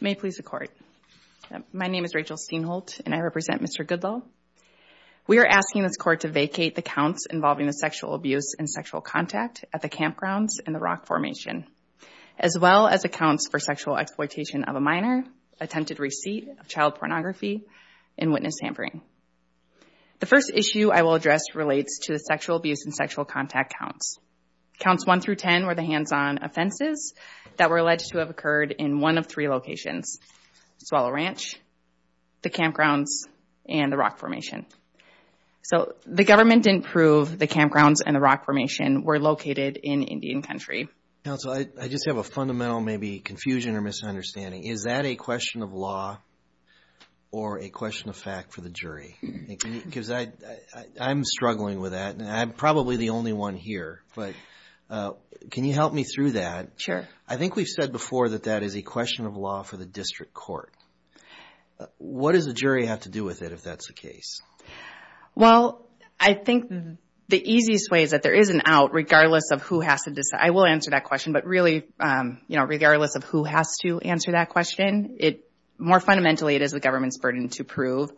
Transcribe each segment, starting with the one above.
May it please the Court, my name is Rachel Steinholt and I represent Mr. Goodlow. We are asking this Court to vacate the counts involving the sexual abuse and sexual contact at the campgrounds and the rock formation, as well as accounts for sexual exploitation of a minor, attempted receipt of child pornography, and witness hampering. The first issue I will address relates to the sexual abuse and sexual contact counts. Counts 1 through 10 were the hands-on offenses that were alleged to have occurred in one of three locations, Swallow Ranch, the campgrounds, and the rock formation. So the government didn't prove the campgrounds and the rock formation were located in Indian Country. Counsel, I just have a fundamental maybe confusion or misunderstanding. Is that a question of law or a question of fact for the jury? Because I'm struggling with that and I'm probably the only one here, but can you help me through that? Sure. I think we've said before that that is a question of law for the district court. What does a jury have to do with it if that's the case? Well, I think the easiest way is that there is an out regardless of who has to decide. I will answer that question, but really regardless of who has to answer that question, more fundamentally it is the government's burden to prove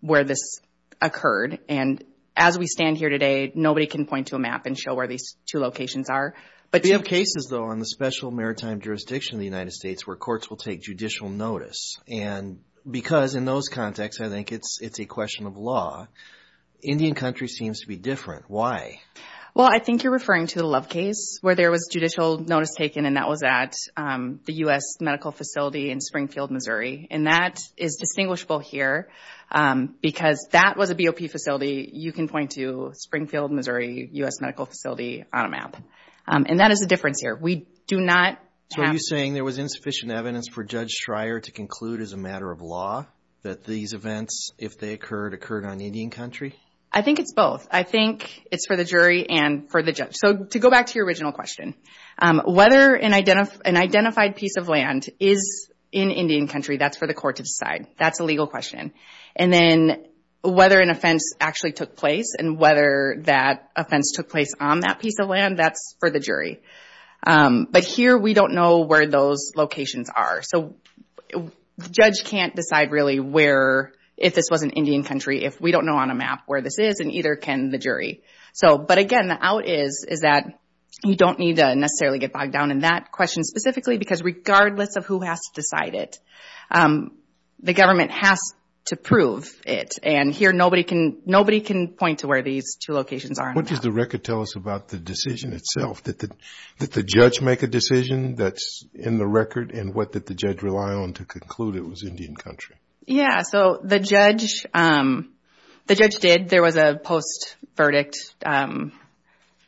where this occurred. And as we stand here today, nobody can point to a map and show where these two locations are. We have cases, though, on the special maritime jurisdiction of the United States where courts will take judicial notice. And because in those contexts I think it's a question of law, Indian Country seems to be different. Why? Well, I think you're referring to the Love case where there was judicial notice taken and that was at the U.S. medical facility in Springfield, Missouri. And that is distinguishable here because that was a BOP facility. You can point to Springfield, Missouri, U.S. medical facility on a map. And that is the difference here. So are you saying there was insufficient evidence for Judge Schrier to conclude as a matter of law that these events, if they occurred, occurred on Indian Country? I think it's both. I think it's for the jury and for the judge. So to go back to your original question, whether an identified piece of land is in Indian Country, that's for the court to decide. That's a legal question. And then whether an offense actually took place and whether that offense took place on that piece of land, that's for the jury. But here we don't know where those locations are. So the judge can't decide really where, if this was in Indian Country, if we don't know on a map where this is, and either can the jury. But again, the out is that you don't need to necessarily get bogged down in that question specifically because regardless of who has to decide it, the government has to prove it. And here nobody can point to where these two locations are on the map. What does the record tell us about the decision itself? Did the judge make a decision that's in the record? And what did the judge rely on to conclude it was Indian Country? Yeah, so the judge did. There was a post-verdict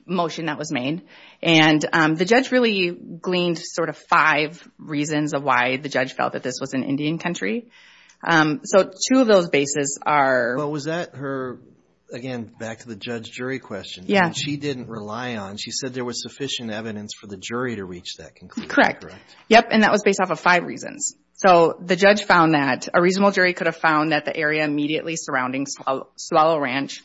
motion that was made. And the judge really gleaned sort of five reasons of why the judge felt that this was in Indian Country. So two of those bases are… Well, was that her, again, back to the judge jury question? Yeah. She didn't rely on, she said there was sufficient evidence for the jury to reach that conclusion, correct? Yep, and that was based off of five reasons. So the judge found that a reasonable jury could have found that the area immediately surrounding Swallow Ranch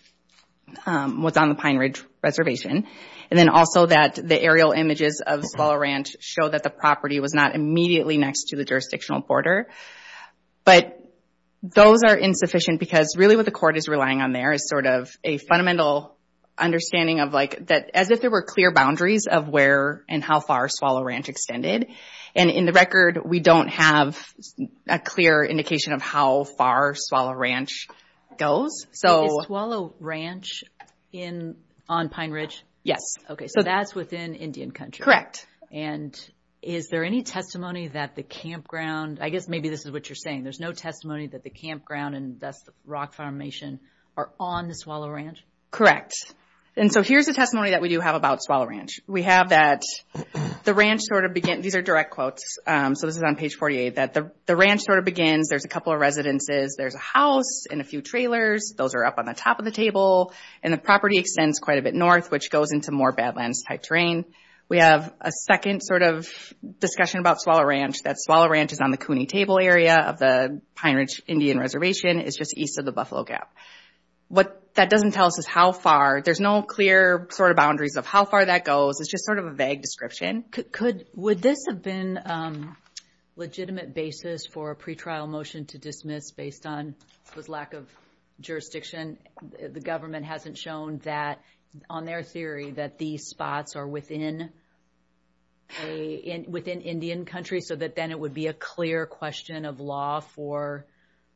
was on the Pine Ridge Reservation. And then also that the aerial images of Swallow Ranch show that the property was not immediately next to the jurisdictional border. But those are insufficient because really what the court is relying on there is sort of a fundamental understanding of like, as if there were clear boundaries of where and how far Swallow Ranch extended. And in the record, we don't have a clear indication of how far Swallow Ranch goes. Is Swallow Ranch on Pine Ridge? Yes. Okay, so that's within Indian Country. Correct. And is there any testimony that the campground, I guess maybe this is what you're saying, there's no testimony that the campground and thus the rock formation are on the Swallow Ranch? Correct. And so here's the testimony that we do have about Swallow Ranch. We have that the ranch sort of begins, these are direct quotes, so this is on page 48, that the ranch sort of begins, there's a couple of residences, there's a house and a few trailers. Those are up on the top of the table. And the property extends quite a bit north, which goes into more badlands type terrain. We have a second sort of discussion about Swallow Ranch, that Swallow Ranch is on the Cooney Table area of the Pine Ridge Indian Reservation. It's just east of the Buffalo Gap. What that doesn't tell us is how far. There's no clear sort of boundaries of how far that goes. It's just sort of a vague description. Would this have been a legitimate basis for a pretrial motion to dismiss based on lack of jurisdiction? The government hasn't shown that on their theory that these spots are within Indian country so that then it would be a clear question of law for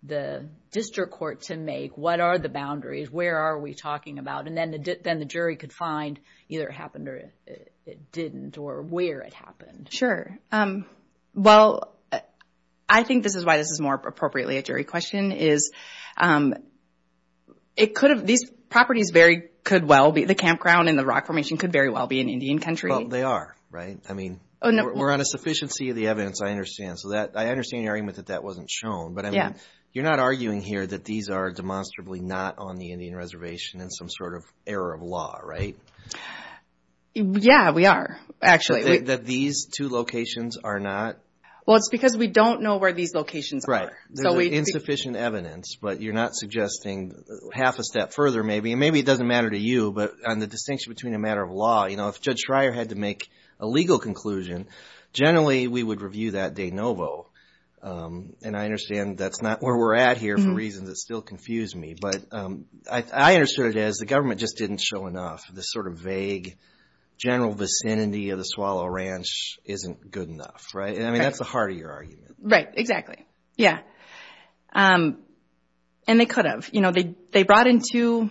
the district court to make. What are the boundaries? Where are we talking about? And then the jury could find either it happened or it didn't or where it happened. Sure. Well, I think this is why this is more appropriately a jury question is these properties could well be, the campground and the rock formation could very well be in Indian country. They are, right? We're on a sufficiency of the evidence, I understand. I understand your argument that that wasn't shown, but you're not arguing here that these are demonstrably not on the Indian Reservation in some sort of error of law, right? Yeah, we are, actually. That these two locations are not? Well, it's because we don't know where these locations are. There's insufficient evidence, but you're not suggesting half a step further maybe, and maybe it doesn't matter to you, but on the distinction between a matter of law, if Judge Schreyer had to make a legal conclusion, generally we would review that de novo. And I understand that's not where we're at here for reasons that still confuse me, but I understood it as the government just didn't show enough. This sort of vague general vicinity of the Swallow Ranch isn't good enough, right? I mean, that's the heart of your argument. Right, exactly. Yeah, and they could have. They brought in two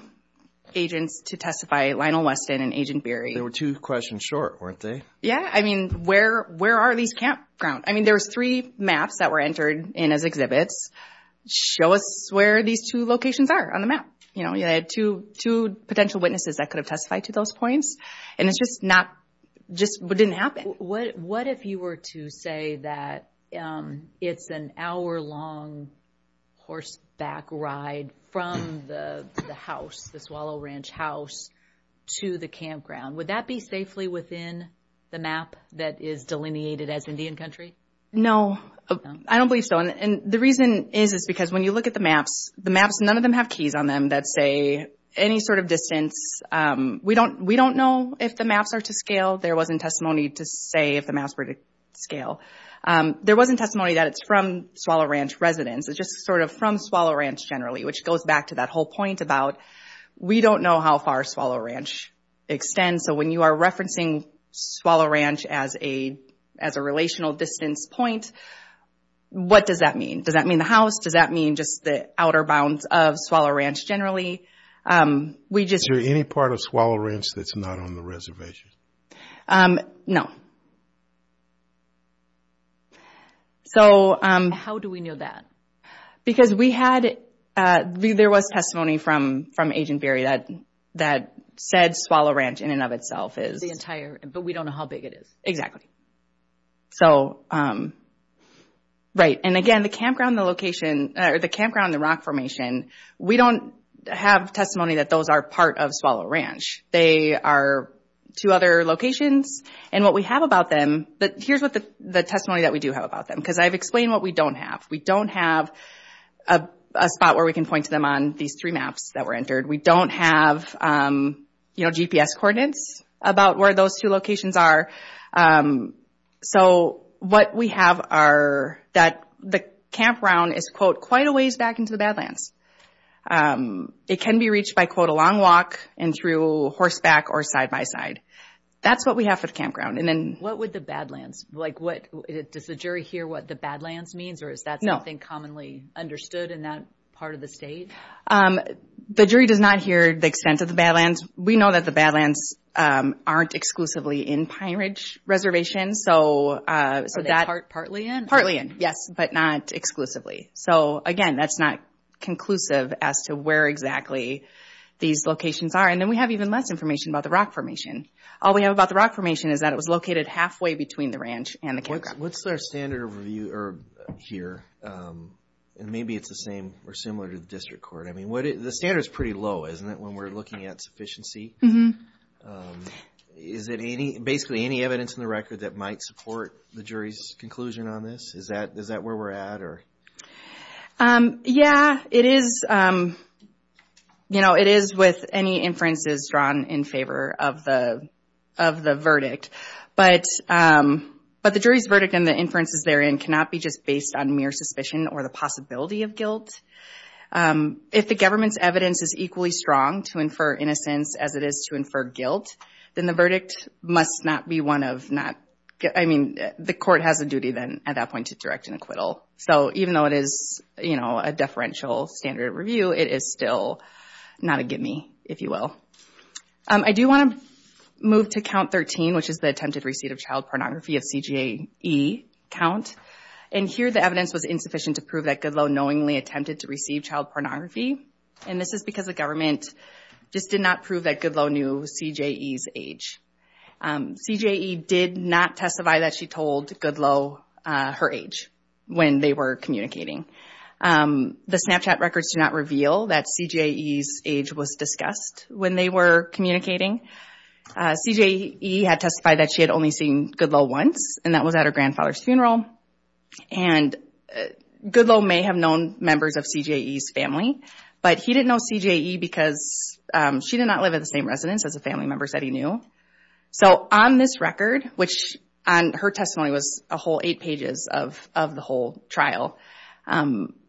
agents to testify, Lionel Weston and Agent Beery. They were two questions short, weren't they? Yeah, I mean, where are these campgrounds? I mean, there's three maps that were entered in as exhibits. Show us where these two locations are on the map. They had two potential witnesses that could have testified to those points, and it just didn't happen. What if you were to say that it's an hour-long horseback ride from the house, the Swallow Ranch house, to the campground? Would that be safely within the map that is delineated as Indian country? No, I don't believe so. The reason is because when you look at the maps, none of them have keys on them that say any sort of distance. We don't know if the maps are to scale. There wasn't testimony to say if the maps were to scale. There wasn't testimony that it's from Swallow Ranch residents. It's just sort of from Swallow Ranch generally, which goes back to that whole point about we don't know how far Swallow Ranch extends. So when you are referencing Swallow Ranch as a relational distance point, what does that mean? Does that mean the house? Does that mean just the outer bounds of Swallow Ranch generally? Is there any part of Swallow Ranch that's not on the reservation? No. How do we know that? Because there was testimony from Agent Berry that said Swallow Ranch in and of itself is... The entire, but we don't know how big it is. Exactly. Again, the campground and the rock formation, we don't have testimony that those are part of Swallow Ranch. They are two other locations. What we have about them, here's the testimony that we do have about them because I've explained what we don't have. We don't have a spot where we can point to them on these three maps that were entered. We don't have GPS coordinates about where those two locations are. So what we have are that the campground is, quote, quite a ways back into the Badlands. It can be reached by, quote, a long walk and through horseback or side-by-side. That's what we have for the campground. What would the Badlands, like does the jury hear what the Badlands means or is that something commonly understood in that part of the state? The jury does not hear the extent of the Badlands. We know that the Badlands aren't exclusively in Pine Ridge Reservation. Are they partly in? Partly in, yes, but not exclusively. Again, that's not conclusive as to where exactly these locations are. Then we have even less information about the rock formation. All we have about the rock formation is that it was located halfway between the ranch and the campground. What's our standard of review here? Maybe it's the same or similar to the district court. I mean, the standard is pretty low, isn't it, when we're looking at sufficiency? Is it basically any evidence in the record that might support the jury's conclusion on this? Is that where we're at? Yeah, it is with any inferences drawn in favor of the verdict. But the jury's verdict and the inferences therein cannot be just based on mere suspicion or the possibility of guilt. If the government's evidence is equally strong to infer innocence as it is to infer guilt, then the verdict must not be one of not – I mean, the court has a duty then at that point to direct an acquittal. So even though it is a deferential standard of review, it is still not a give-me, if you will. I do want to move to count 13, which is the attempted receipt of child pornography of CJE count. And here the evidence was insufficient to prove that Goodloe knowingly attempted to receive child pornography. And this is because the government just did not prove that Goodloe knew CJE's age. CJE did not testify that she told Goodloe her age when they were communicating. The Snapchat records do not reveal that CJE's age was discussed when they were communicating. CJE had testified that she had only seen Goodloe once, and that was at her grandfather's funeral. And Goodloe may have known members of CJE's family, but he didn't know CJE because she did not live at the same residence as the family members that he knew. So on this record, which on her testimony was a whole eight pages of the whole trial,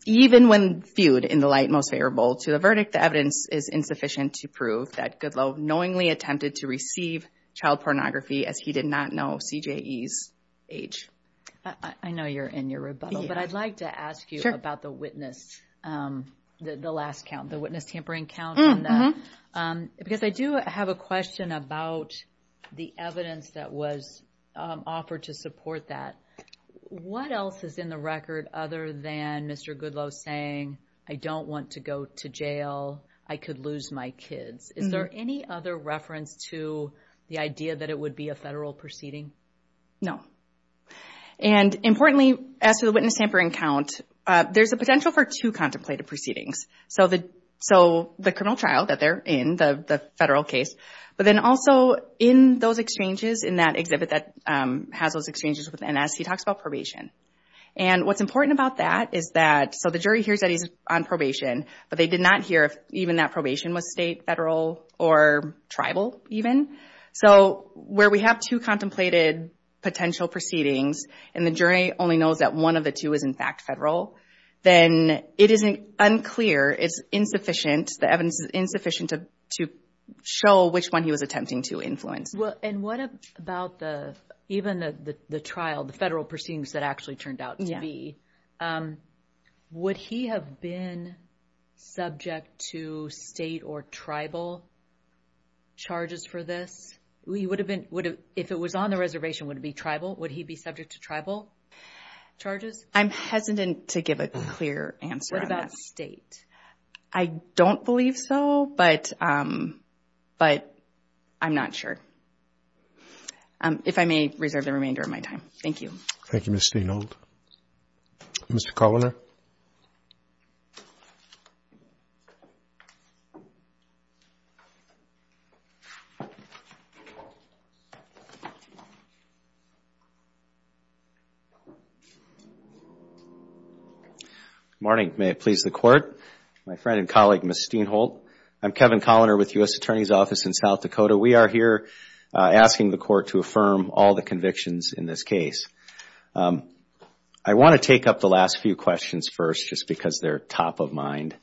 even when viewed in the light most favorable to the verdict, the evidence is insufficient to prove that Goodloe knowingly attempted to receive child pornography as he did not know CJE's age. I know you're in your rebuttal, but I'd like to ask you about the witness, the last count, the witness tampering count on that. Because I do have a question about the evidence that was offered to support that. What else is in the record other than Mr. Goodloe saying, I don't want to go to jail, I could lose my kids? Is there any other reference to the idea that it would be a federal proceeding? No. And importantly, as to the witness tampering count, there's a potential for two contemplated proceedings. So the criminal trial that they're in, the federal case, but then also in those exchanges, in that exhibit that has those exchanges with NS, he talks about probation. And what's important about that is that, so the jury hears that he's on probation, but they did not hear if even that probation was state, federal, or tribal even. So where we have two contemplated potential proceedings, and the jury only knows that one of the two is in fact federal, then it isn't unclear, it's insufficient, the evidence is insufficient to show which one he was attempting to influence. And what about even the trial, the federal proceedings that actually turned out to be, would he have been subject to state or tribal charges for this? If it was on the reservation, would it be tribal? Would he be subject to tribal charges? I'm hesitant to give a clear answer on that. I don't believe so, but I'm not sure. If I may reserve the remainder of my time. Thank you. Thank you, Ms. Stienholt. Mr. Kovner? Good morning. May it please the Court. My friend and colleague, Ms. Stienholt. I'm Kevin Kovner with the U.S. Attorney's Office in South Dakota. We are here asking the Court to affirm all the convictions in this case. I want to take up the last few questions first just because they're top of mind.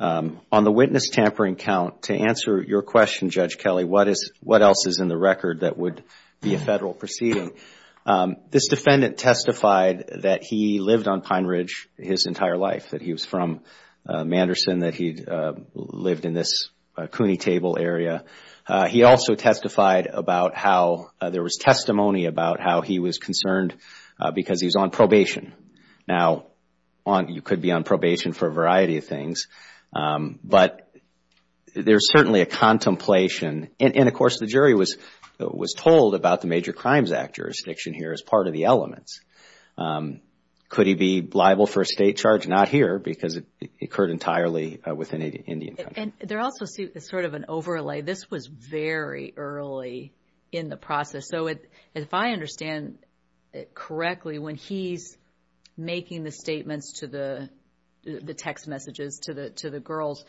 On the witness tampering count, to answer your question, Judge Kelly, what else is in the record that would be a federal proceeding? This defendant testified that he lived on Pine Ridge his entire life, that he was from Manderson, that he lived in this Cooney Table area. He also testified about how there was testimony about how he was concerned because he's on probation. Now, you could be on probation for a variety of things, but there's certainly a contemplation. And, of course, the jury was told about the Major Crimes Act jurisdiction here as part of the elements. Could he be liable for a state charge? Not here because it occurred entirely within Indian country. And there also is sort of an overlay. This was very early in the process. So if I understand correctly, when he's making the statements to the text messages, to the girls,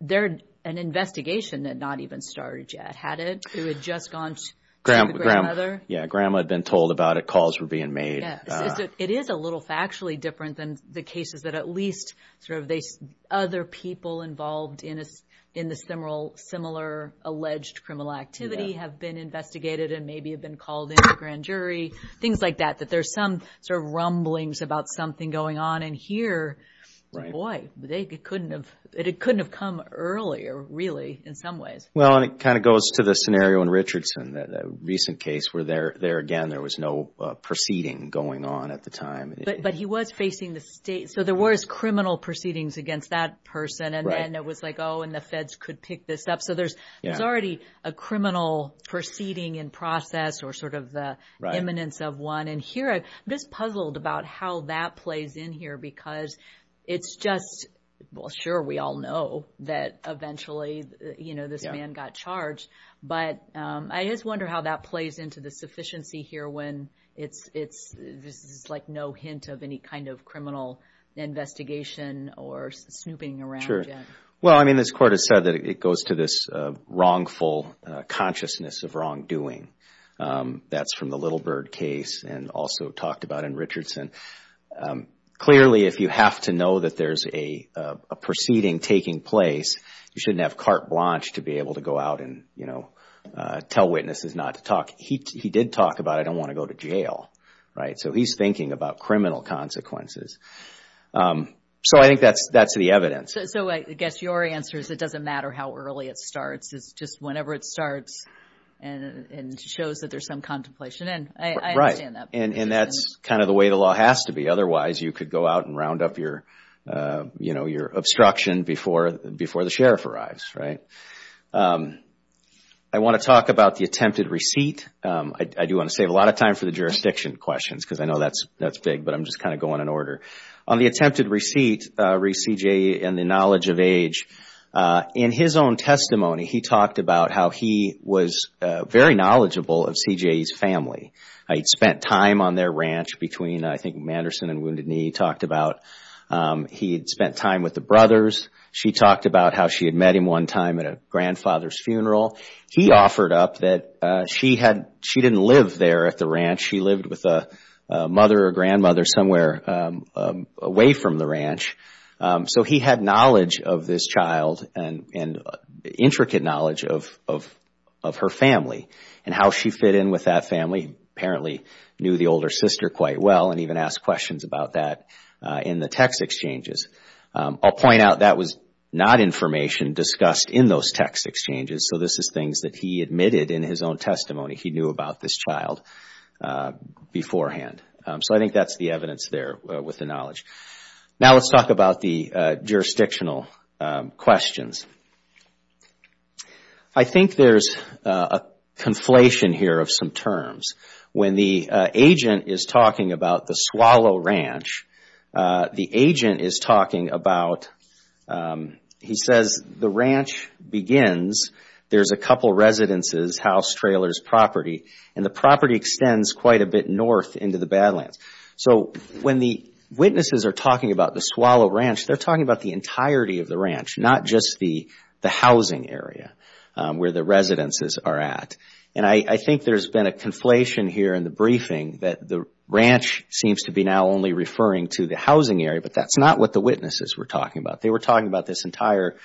they're an investigation that not even started yet, had it? It had just gone to the grandmother? Yeah, Grandma had been told about it. Calls were being made. It is a little factually different than the cases that at least sort of other people involved in this similar alleged criminal activity have been investigated and maybe have been called in to the grand jury, things like that, that there's some sort of rumblings about something going on. And here, boy, it couldn't have come earlier, really, in some ways. Well, and it kind of goes to the scenario in Richardson, that recent case where there, again, there was no proceeding going on at the time. But he was facing the state. So there was criminal proceedings against that person. And it was like, oh, and the feds could pick this up. So there's already a criminal proceeding in process or sort of the eminence of one. And here I'm just puzzled about how that plays in here because it's just, well, sure, we all know that eventually this man got charged. But I just wonder how that plays into the sufficiency here when it's like no hint of any kind of criminal investigation or snooping around. Well, I mean, this court has said that it goes to this wrongful consciousness of wrongdoing. That's from the Little Bird case and also talked about in Richardson. Clearly, if you have to know that there's a proceeding taking place, you shouldn't have carte blanche to be able to go out and, you know, tell witnesses not to talk. He did talk about, I don't want to go to jail, right? So he's thinking about criminal consequences. So I think that's the evidence. So I guess your answer is it doesn't matter how early it starts. It's just whenever it starts and shows that there's some contemplation. And I understand that. And that's kind of the way the law has to be. Otherwise, you could go out and round up your, you know, your obstruction before the sheriff arrives, right? I want to talk about the attempted receipt. I do want to save a lot of time for the jurisdiction questions because I know that's big, but I'm just kind of going in order. On the attempted receipt, re-CJA and the knowledge of age, in his own testimony, he talked about how he was very knowledgeable of CJA's family. He'd spent time on their ranch between, I think, Manderson and Wounded Knee. He talked about he'd spent time with the brothers. She talked about how she had met him one time at a grandfather's funeral. He offered up that she didn't live there at the ranch. She lived with a mother or grandmother somewhere away from the ranch. So, he had knowledge of this child and intricate knowledge of her family and how she fit in with that family. Apparently, he knew the older sister quite well and even asked questions about that in the text exchanges. I'll point out that was not information discussed in those text exchanges. So, this is things that he admitted in his own testimony he knew about this child beforehand. So, I think that's the evidence there with the knowledge. Now, let's talk about the jurisdictional questions. I think there's a conflation here of some terms. When the agent is talking about the Swallow Ranch, the agent is talking about, he says, the ranch begins, there's a couple residences, house, trailers, property, and the property extends quite a bit north into the Badlands. So, when the witnesses are talking about the Swallow Ranch, they're talking about the entirety of the ranch, not just the housing area where the residences are at. And I think there's been a conflation here in the briefing that the ranch seems to be now only referring to the housing area, but that's not what the witnesses were talking about. They were talking about this entire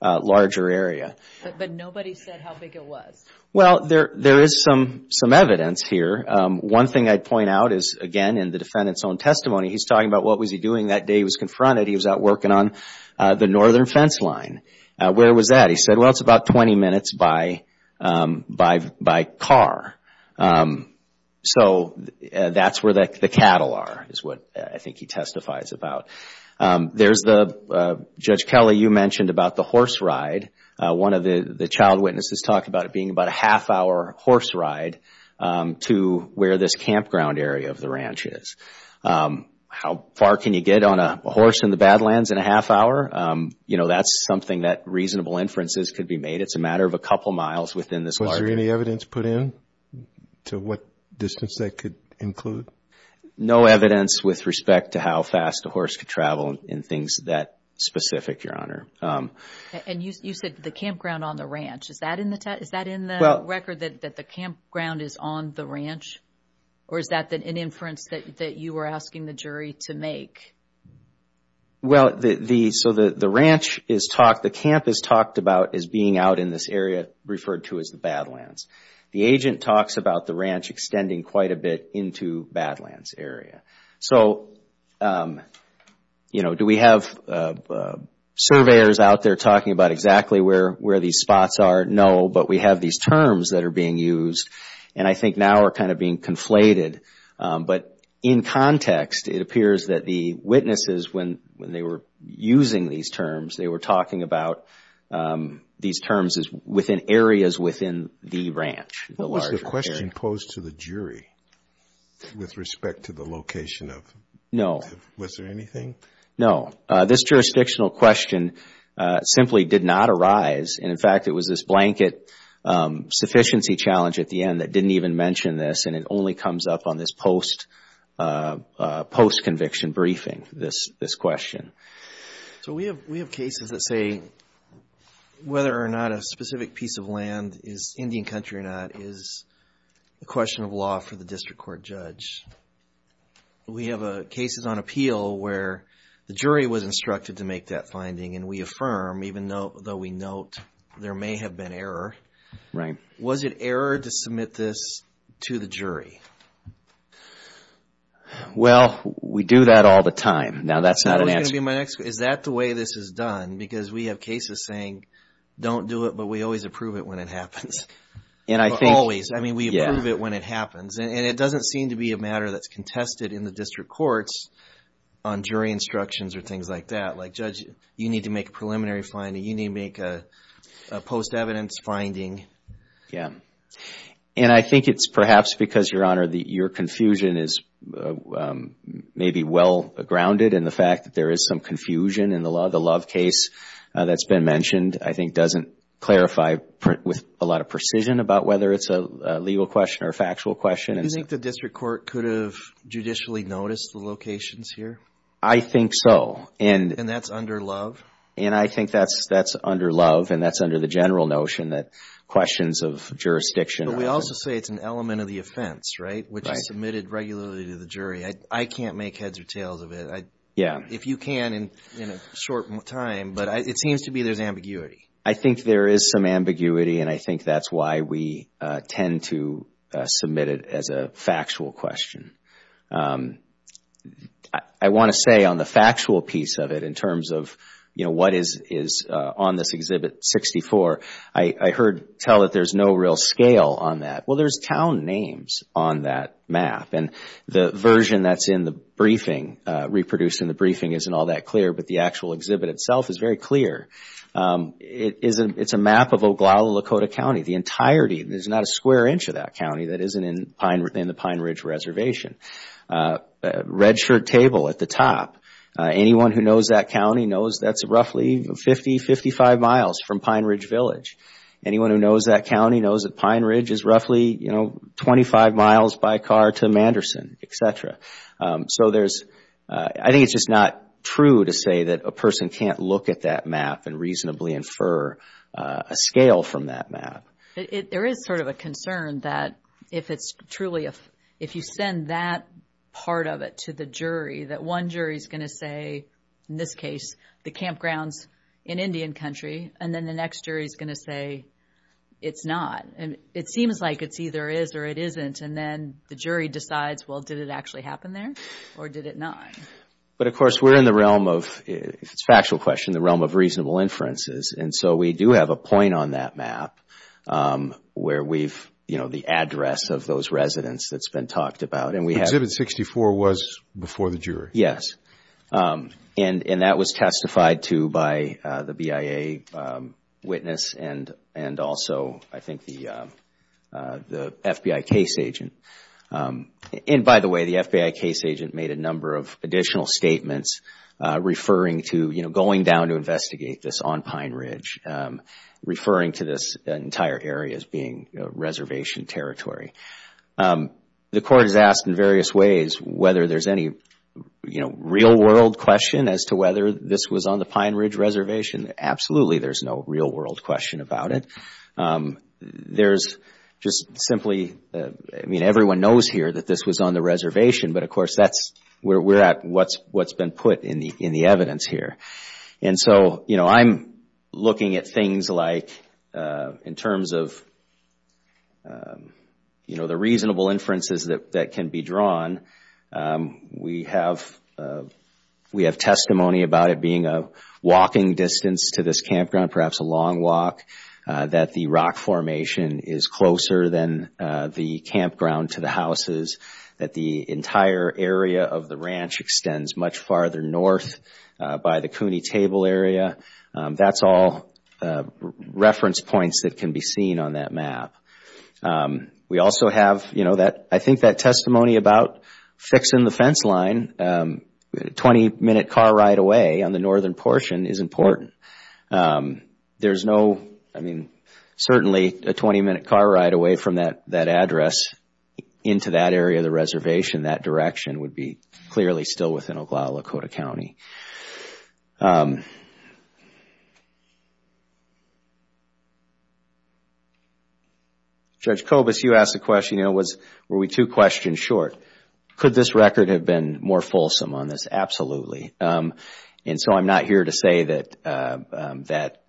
larger area. But nobody said how big it was. Well, there is some evidence here. One thing I'd point out is, again, in the defendant's own testimony, he's talking about what was he doing that day he was confronted. He was out working on the northern fence line. Where was that? He said, well, it's about 20 minutes by car. So, that's where the cattle are, is what I think he testifies about. There's the, Judge Kelly, you mentioned about the horse ride. One of the child witnesses talked about it being about a half-hour horse ride to where this campground area of the ranch is. How far can you get on a horse in the Badlands in a half-hour? That's something that reasonable inferences could be made. It's a matter of a couple miles within this larger area. Was there any evidence put in to what distance that could include? No evidence with respect to how fast a horse could travel in things that specific, Your Honor. And you said the campground on the ranch. Is that in the record that the campground is on the ranch? Or is that an inference that you were asking the jury to make? Well, so the ranch is talked, the camp is talked about as being out in this area referred to as the Badlands. The agent talks about the ranch extending quite a bit into Badlands area. So, you know, do we have surveyors out there talking about exactly where these spots are? No, but we have these terms that are being used, and I think now are kind of being conflated. But in context, it appears that the witnesses, when they were using these terms, they were talking about these terms as within areas within the ranch, the larger area. Was there anything posed to the jury with respect to the location of? No. Was there anything? No. This jurisdictional question simply did not arise. And, in fact, it was this blanket sufficiency challenge at the end that didn't even mention this, and it only comes up on this post-conviction briefing, this question. So we have cases that say whether or not a specific piece of land is Indian country or not is a question of law for the district court judge. We have cases on appeal where the jury was instructed to make that finding, and we affirm, even though we note there may have been error. Right. Was it error to submit this to the jury? Well, we do that all the time. Now, that's not an answer. Is that the way this is done? Because we have cases saying, don't do it, but we always approve it when it happens. Always. I mean, we approve it when it happens. And it doesn't seem to be a matter that's contested in the district courts on jury instructions or things like that. Like, judge, you need to make a preliminary finding. You need to make a post-evidence finding. Yeah. And I think it's perhaps because, Your Honor, your confusion is maybe well-grounded, and the fact that there is some confusion in the Law of the Love case that's been mentioned, I think, doesn't clarify with a lot of precision about whether it's a legal question or a factual question. Do you think the district court could have judicially noticed the locations here? I think so. And that's under Love? And I think that's under Love, and that's under the general notion that questions of jurisdiction. But we also say it's an element of the offense, right, which is submitted regularly to the jury. I can't make heads or tails of it. Yeah. If you can in a short time, but it seems to me there's ambiguity. I think there is some ambiguity, and I think that's why we tend to submit it as a factual question. I want to say on the factual piece of it in terms of, you know, what is on this Exhibit 64, I heard tell that there's no real scale on that. Well, there's town names on that map. And the version that's in the briefing, reproduced in the briefing, isn't all that clear, but the actual exhibit itself is very clear. It's a map of Oglala-Lakota County. The entirety, there's not a square inch of that county that isn't in the Pine Ridge Reservation. Redshirt Table at the top, anyone who knows that county knows that's roughly 50, 55 miles from Pine Ridge Village. Anyone who knows that county knows that Pine Ridge is roughly, you know, 25 miles by car to Manderson, etc. So there's, I think it's just not true to say that a person can't look at that map and reasonably infer a scale from that map. There is sort of a concern that if it's truly, if you send that part of it to the jury, that one jury is going to say, in this case, the campgrounds in Indian Country, and then the next jury is going to say it's not. And it seems like it's either is or it isn't, and then the jury decides, well, did it actually happen there or did it not? But, of course, we're in the realm of, if it's a factual question, the realm of reasonable inferences. And so we do have a point on that map where we've, you know, the address of those residents that's been talked about. Exhibit 64 was before the jury. Yes. And that was testified to by the BIA witness and also, I think, the FBI case agent. And, by the way, the FBI case agent made a number of additional statements referring to, you know, going down to investigate this on Pine Ridge, referring to this entire area as being reservation territory. The court has asked in various ways whether there's any, you know, real-world question as to whether this was on the Pine Ridge reservation. Absolutely, there's no real-world question about it. There's just simply, I mean, everyone knows here that this was on the reservation, but, of course, that's where we're at, what's been put in the evidence here. And so, you know, I'm looking at things like in terms of, you know, the reasonable inferences that can be drawn. We have testimony about it being a walking distance to this campground, perhaps a long walk, that the rock formation is closer than the campground to the houses, that the entire area of the ranch extends much farther north by the CUNY table area. That's all reference points that can be seen on that map. We also have, you know, I think that testimony about fixing the fence line, a 20-minute car ride away on the northern portion is important. There's no, I mean, certainly a 20-minute car ride away from that address into that area of the reservation, that direction would be clearly still within Oglala-Lakota County. Judge Kobus, you asked the question, you know, were we two questions short. Could this record have been more fulsome on this? Absolutely. And so I'm not here to say that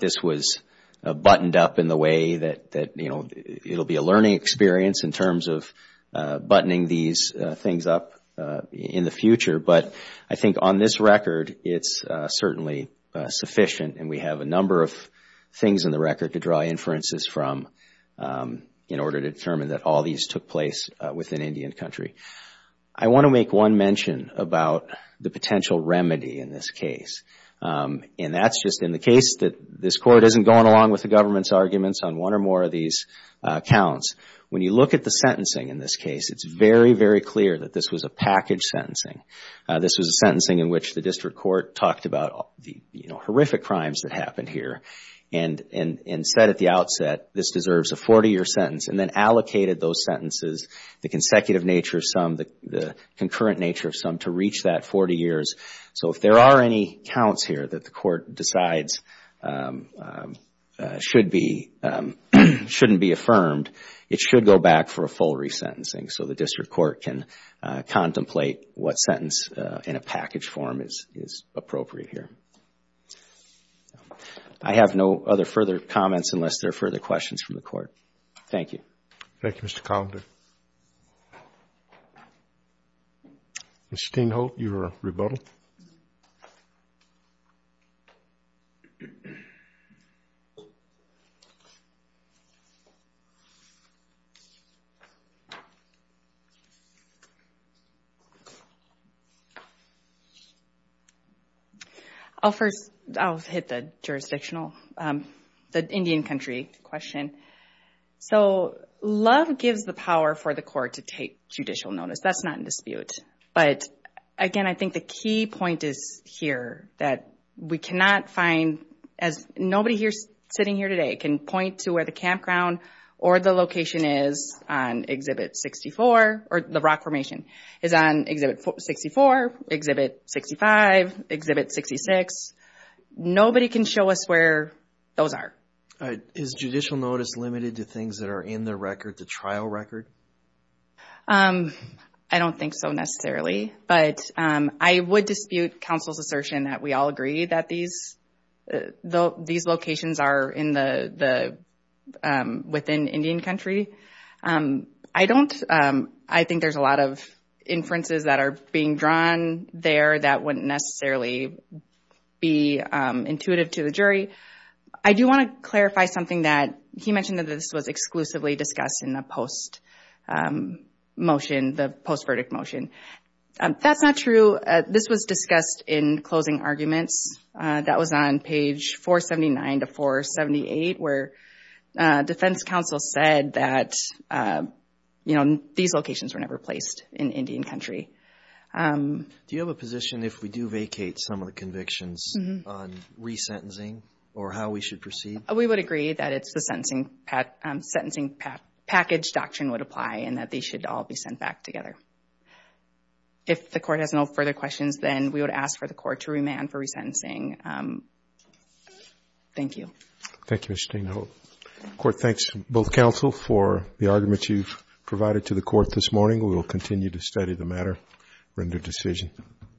this was buttoned up in the way that, you know, it'll be a learning experience in terms of buttoning these things up in the future. But I think on this record, it's certainly sufficient, and we have a number of things in the record to draw inferences from in order to determine that all these took place within Indian Country. I want to make one mention about the potential remedy in this case. And that's just in the case that this Court isn't going along with the government's arguments on one or more of these counts. When you look at the sentencing in this case, it's very, very clear that this was a package sentencing. This was a sentencing in which the district court talked about the, you know, horrific crimes that happened here and said at the outset, this deserves a 40-year sentence, and then allocated those sentences, the consecutive nature of some, the concurrent nature of some, to reach that 40 years. So if there are any counts here that the Court decides shouldn't be affirmed, it should go back for a full resentencing so the district court can contemplate what sentence in a package form is appropriate here. I have no other further comments unless there are further questions from the Court. Thank you. Thank you, Mr. Calder. Ms. Steinholt, your rebuttal. I'll first, I'll hit the jurisdictional, the Indian Country question. So love gives the power for the Court to take judicial notice. That's not in dispute. But again, I think the key point is here that we cannot find, as nobody sitting here today can point to where the campground or the location is on Exhibit 64, or the rock formation is on Exhibit 64, Exhibit 65, Exhibit 66. Nobody can show us where those are. Is judicial notice limited to things that are in the record, the trial record? I don't think so necessarily. But I would dispute counsel's assertion that we all agree that these locations are in the, within Indian Country. I don't, I think there's a lot of inferences that are being drawn there that wouldn't necessarily be intuitive to the jury. I do want to clarify something that he mentioned that this was exclusively discussed in the post-motion, the post-verdict motion. That's not true. This was discussed in closing arguments. That was on page 479 to 478, where defense counsel said that, you know, these locations were never placed in Indian Country. Do you have a position if we do vacate some of the convictions on resentencing or how we should proceed? We would agree that it's the sentencing package doctrine would apply and that they should all be sent back together. If the court has no further questions, then we would ask for the court to remand for resentencing. Thank you. Thank you, Ms. Stainhill. The court thanks both counsel for the arguments you've provided to the court this morning. We will continue to study the matter, render decision.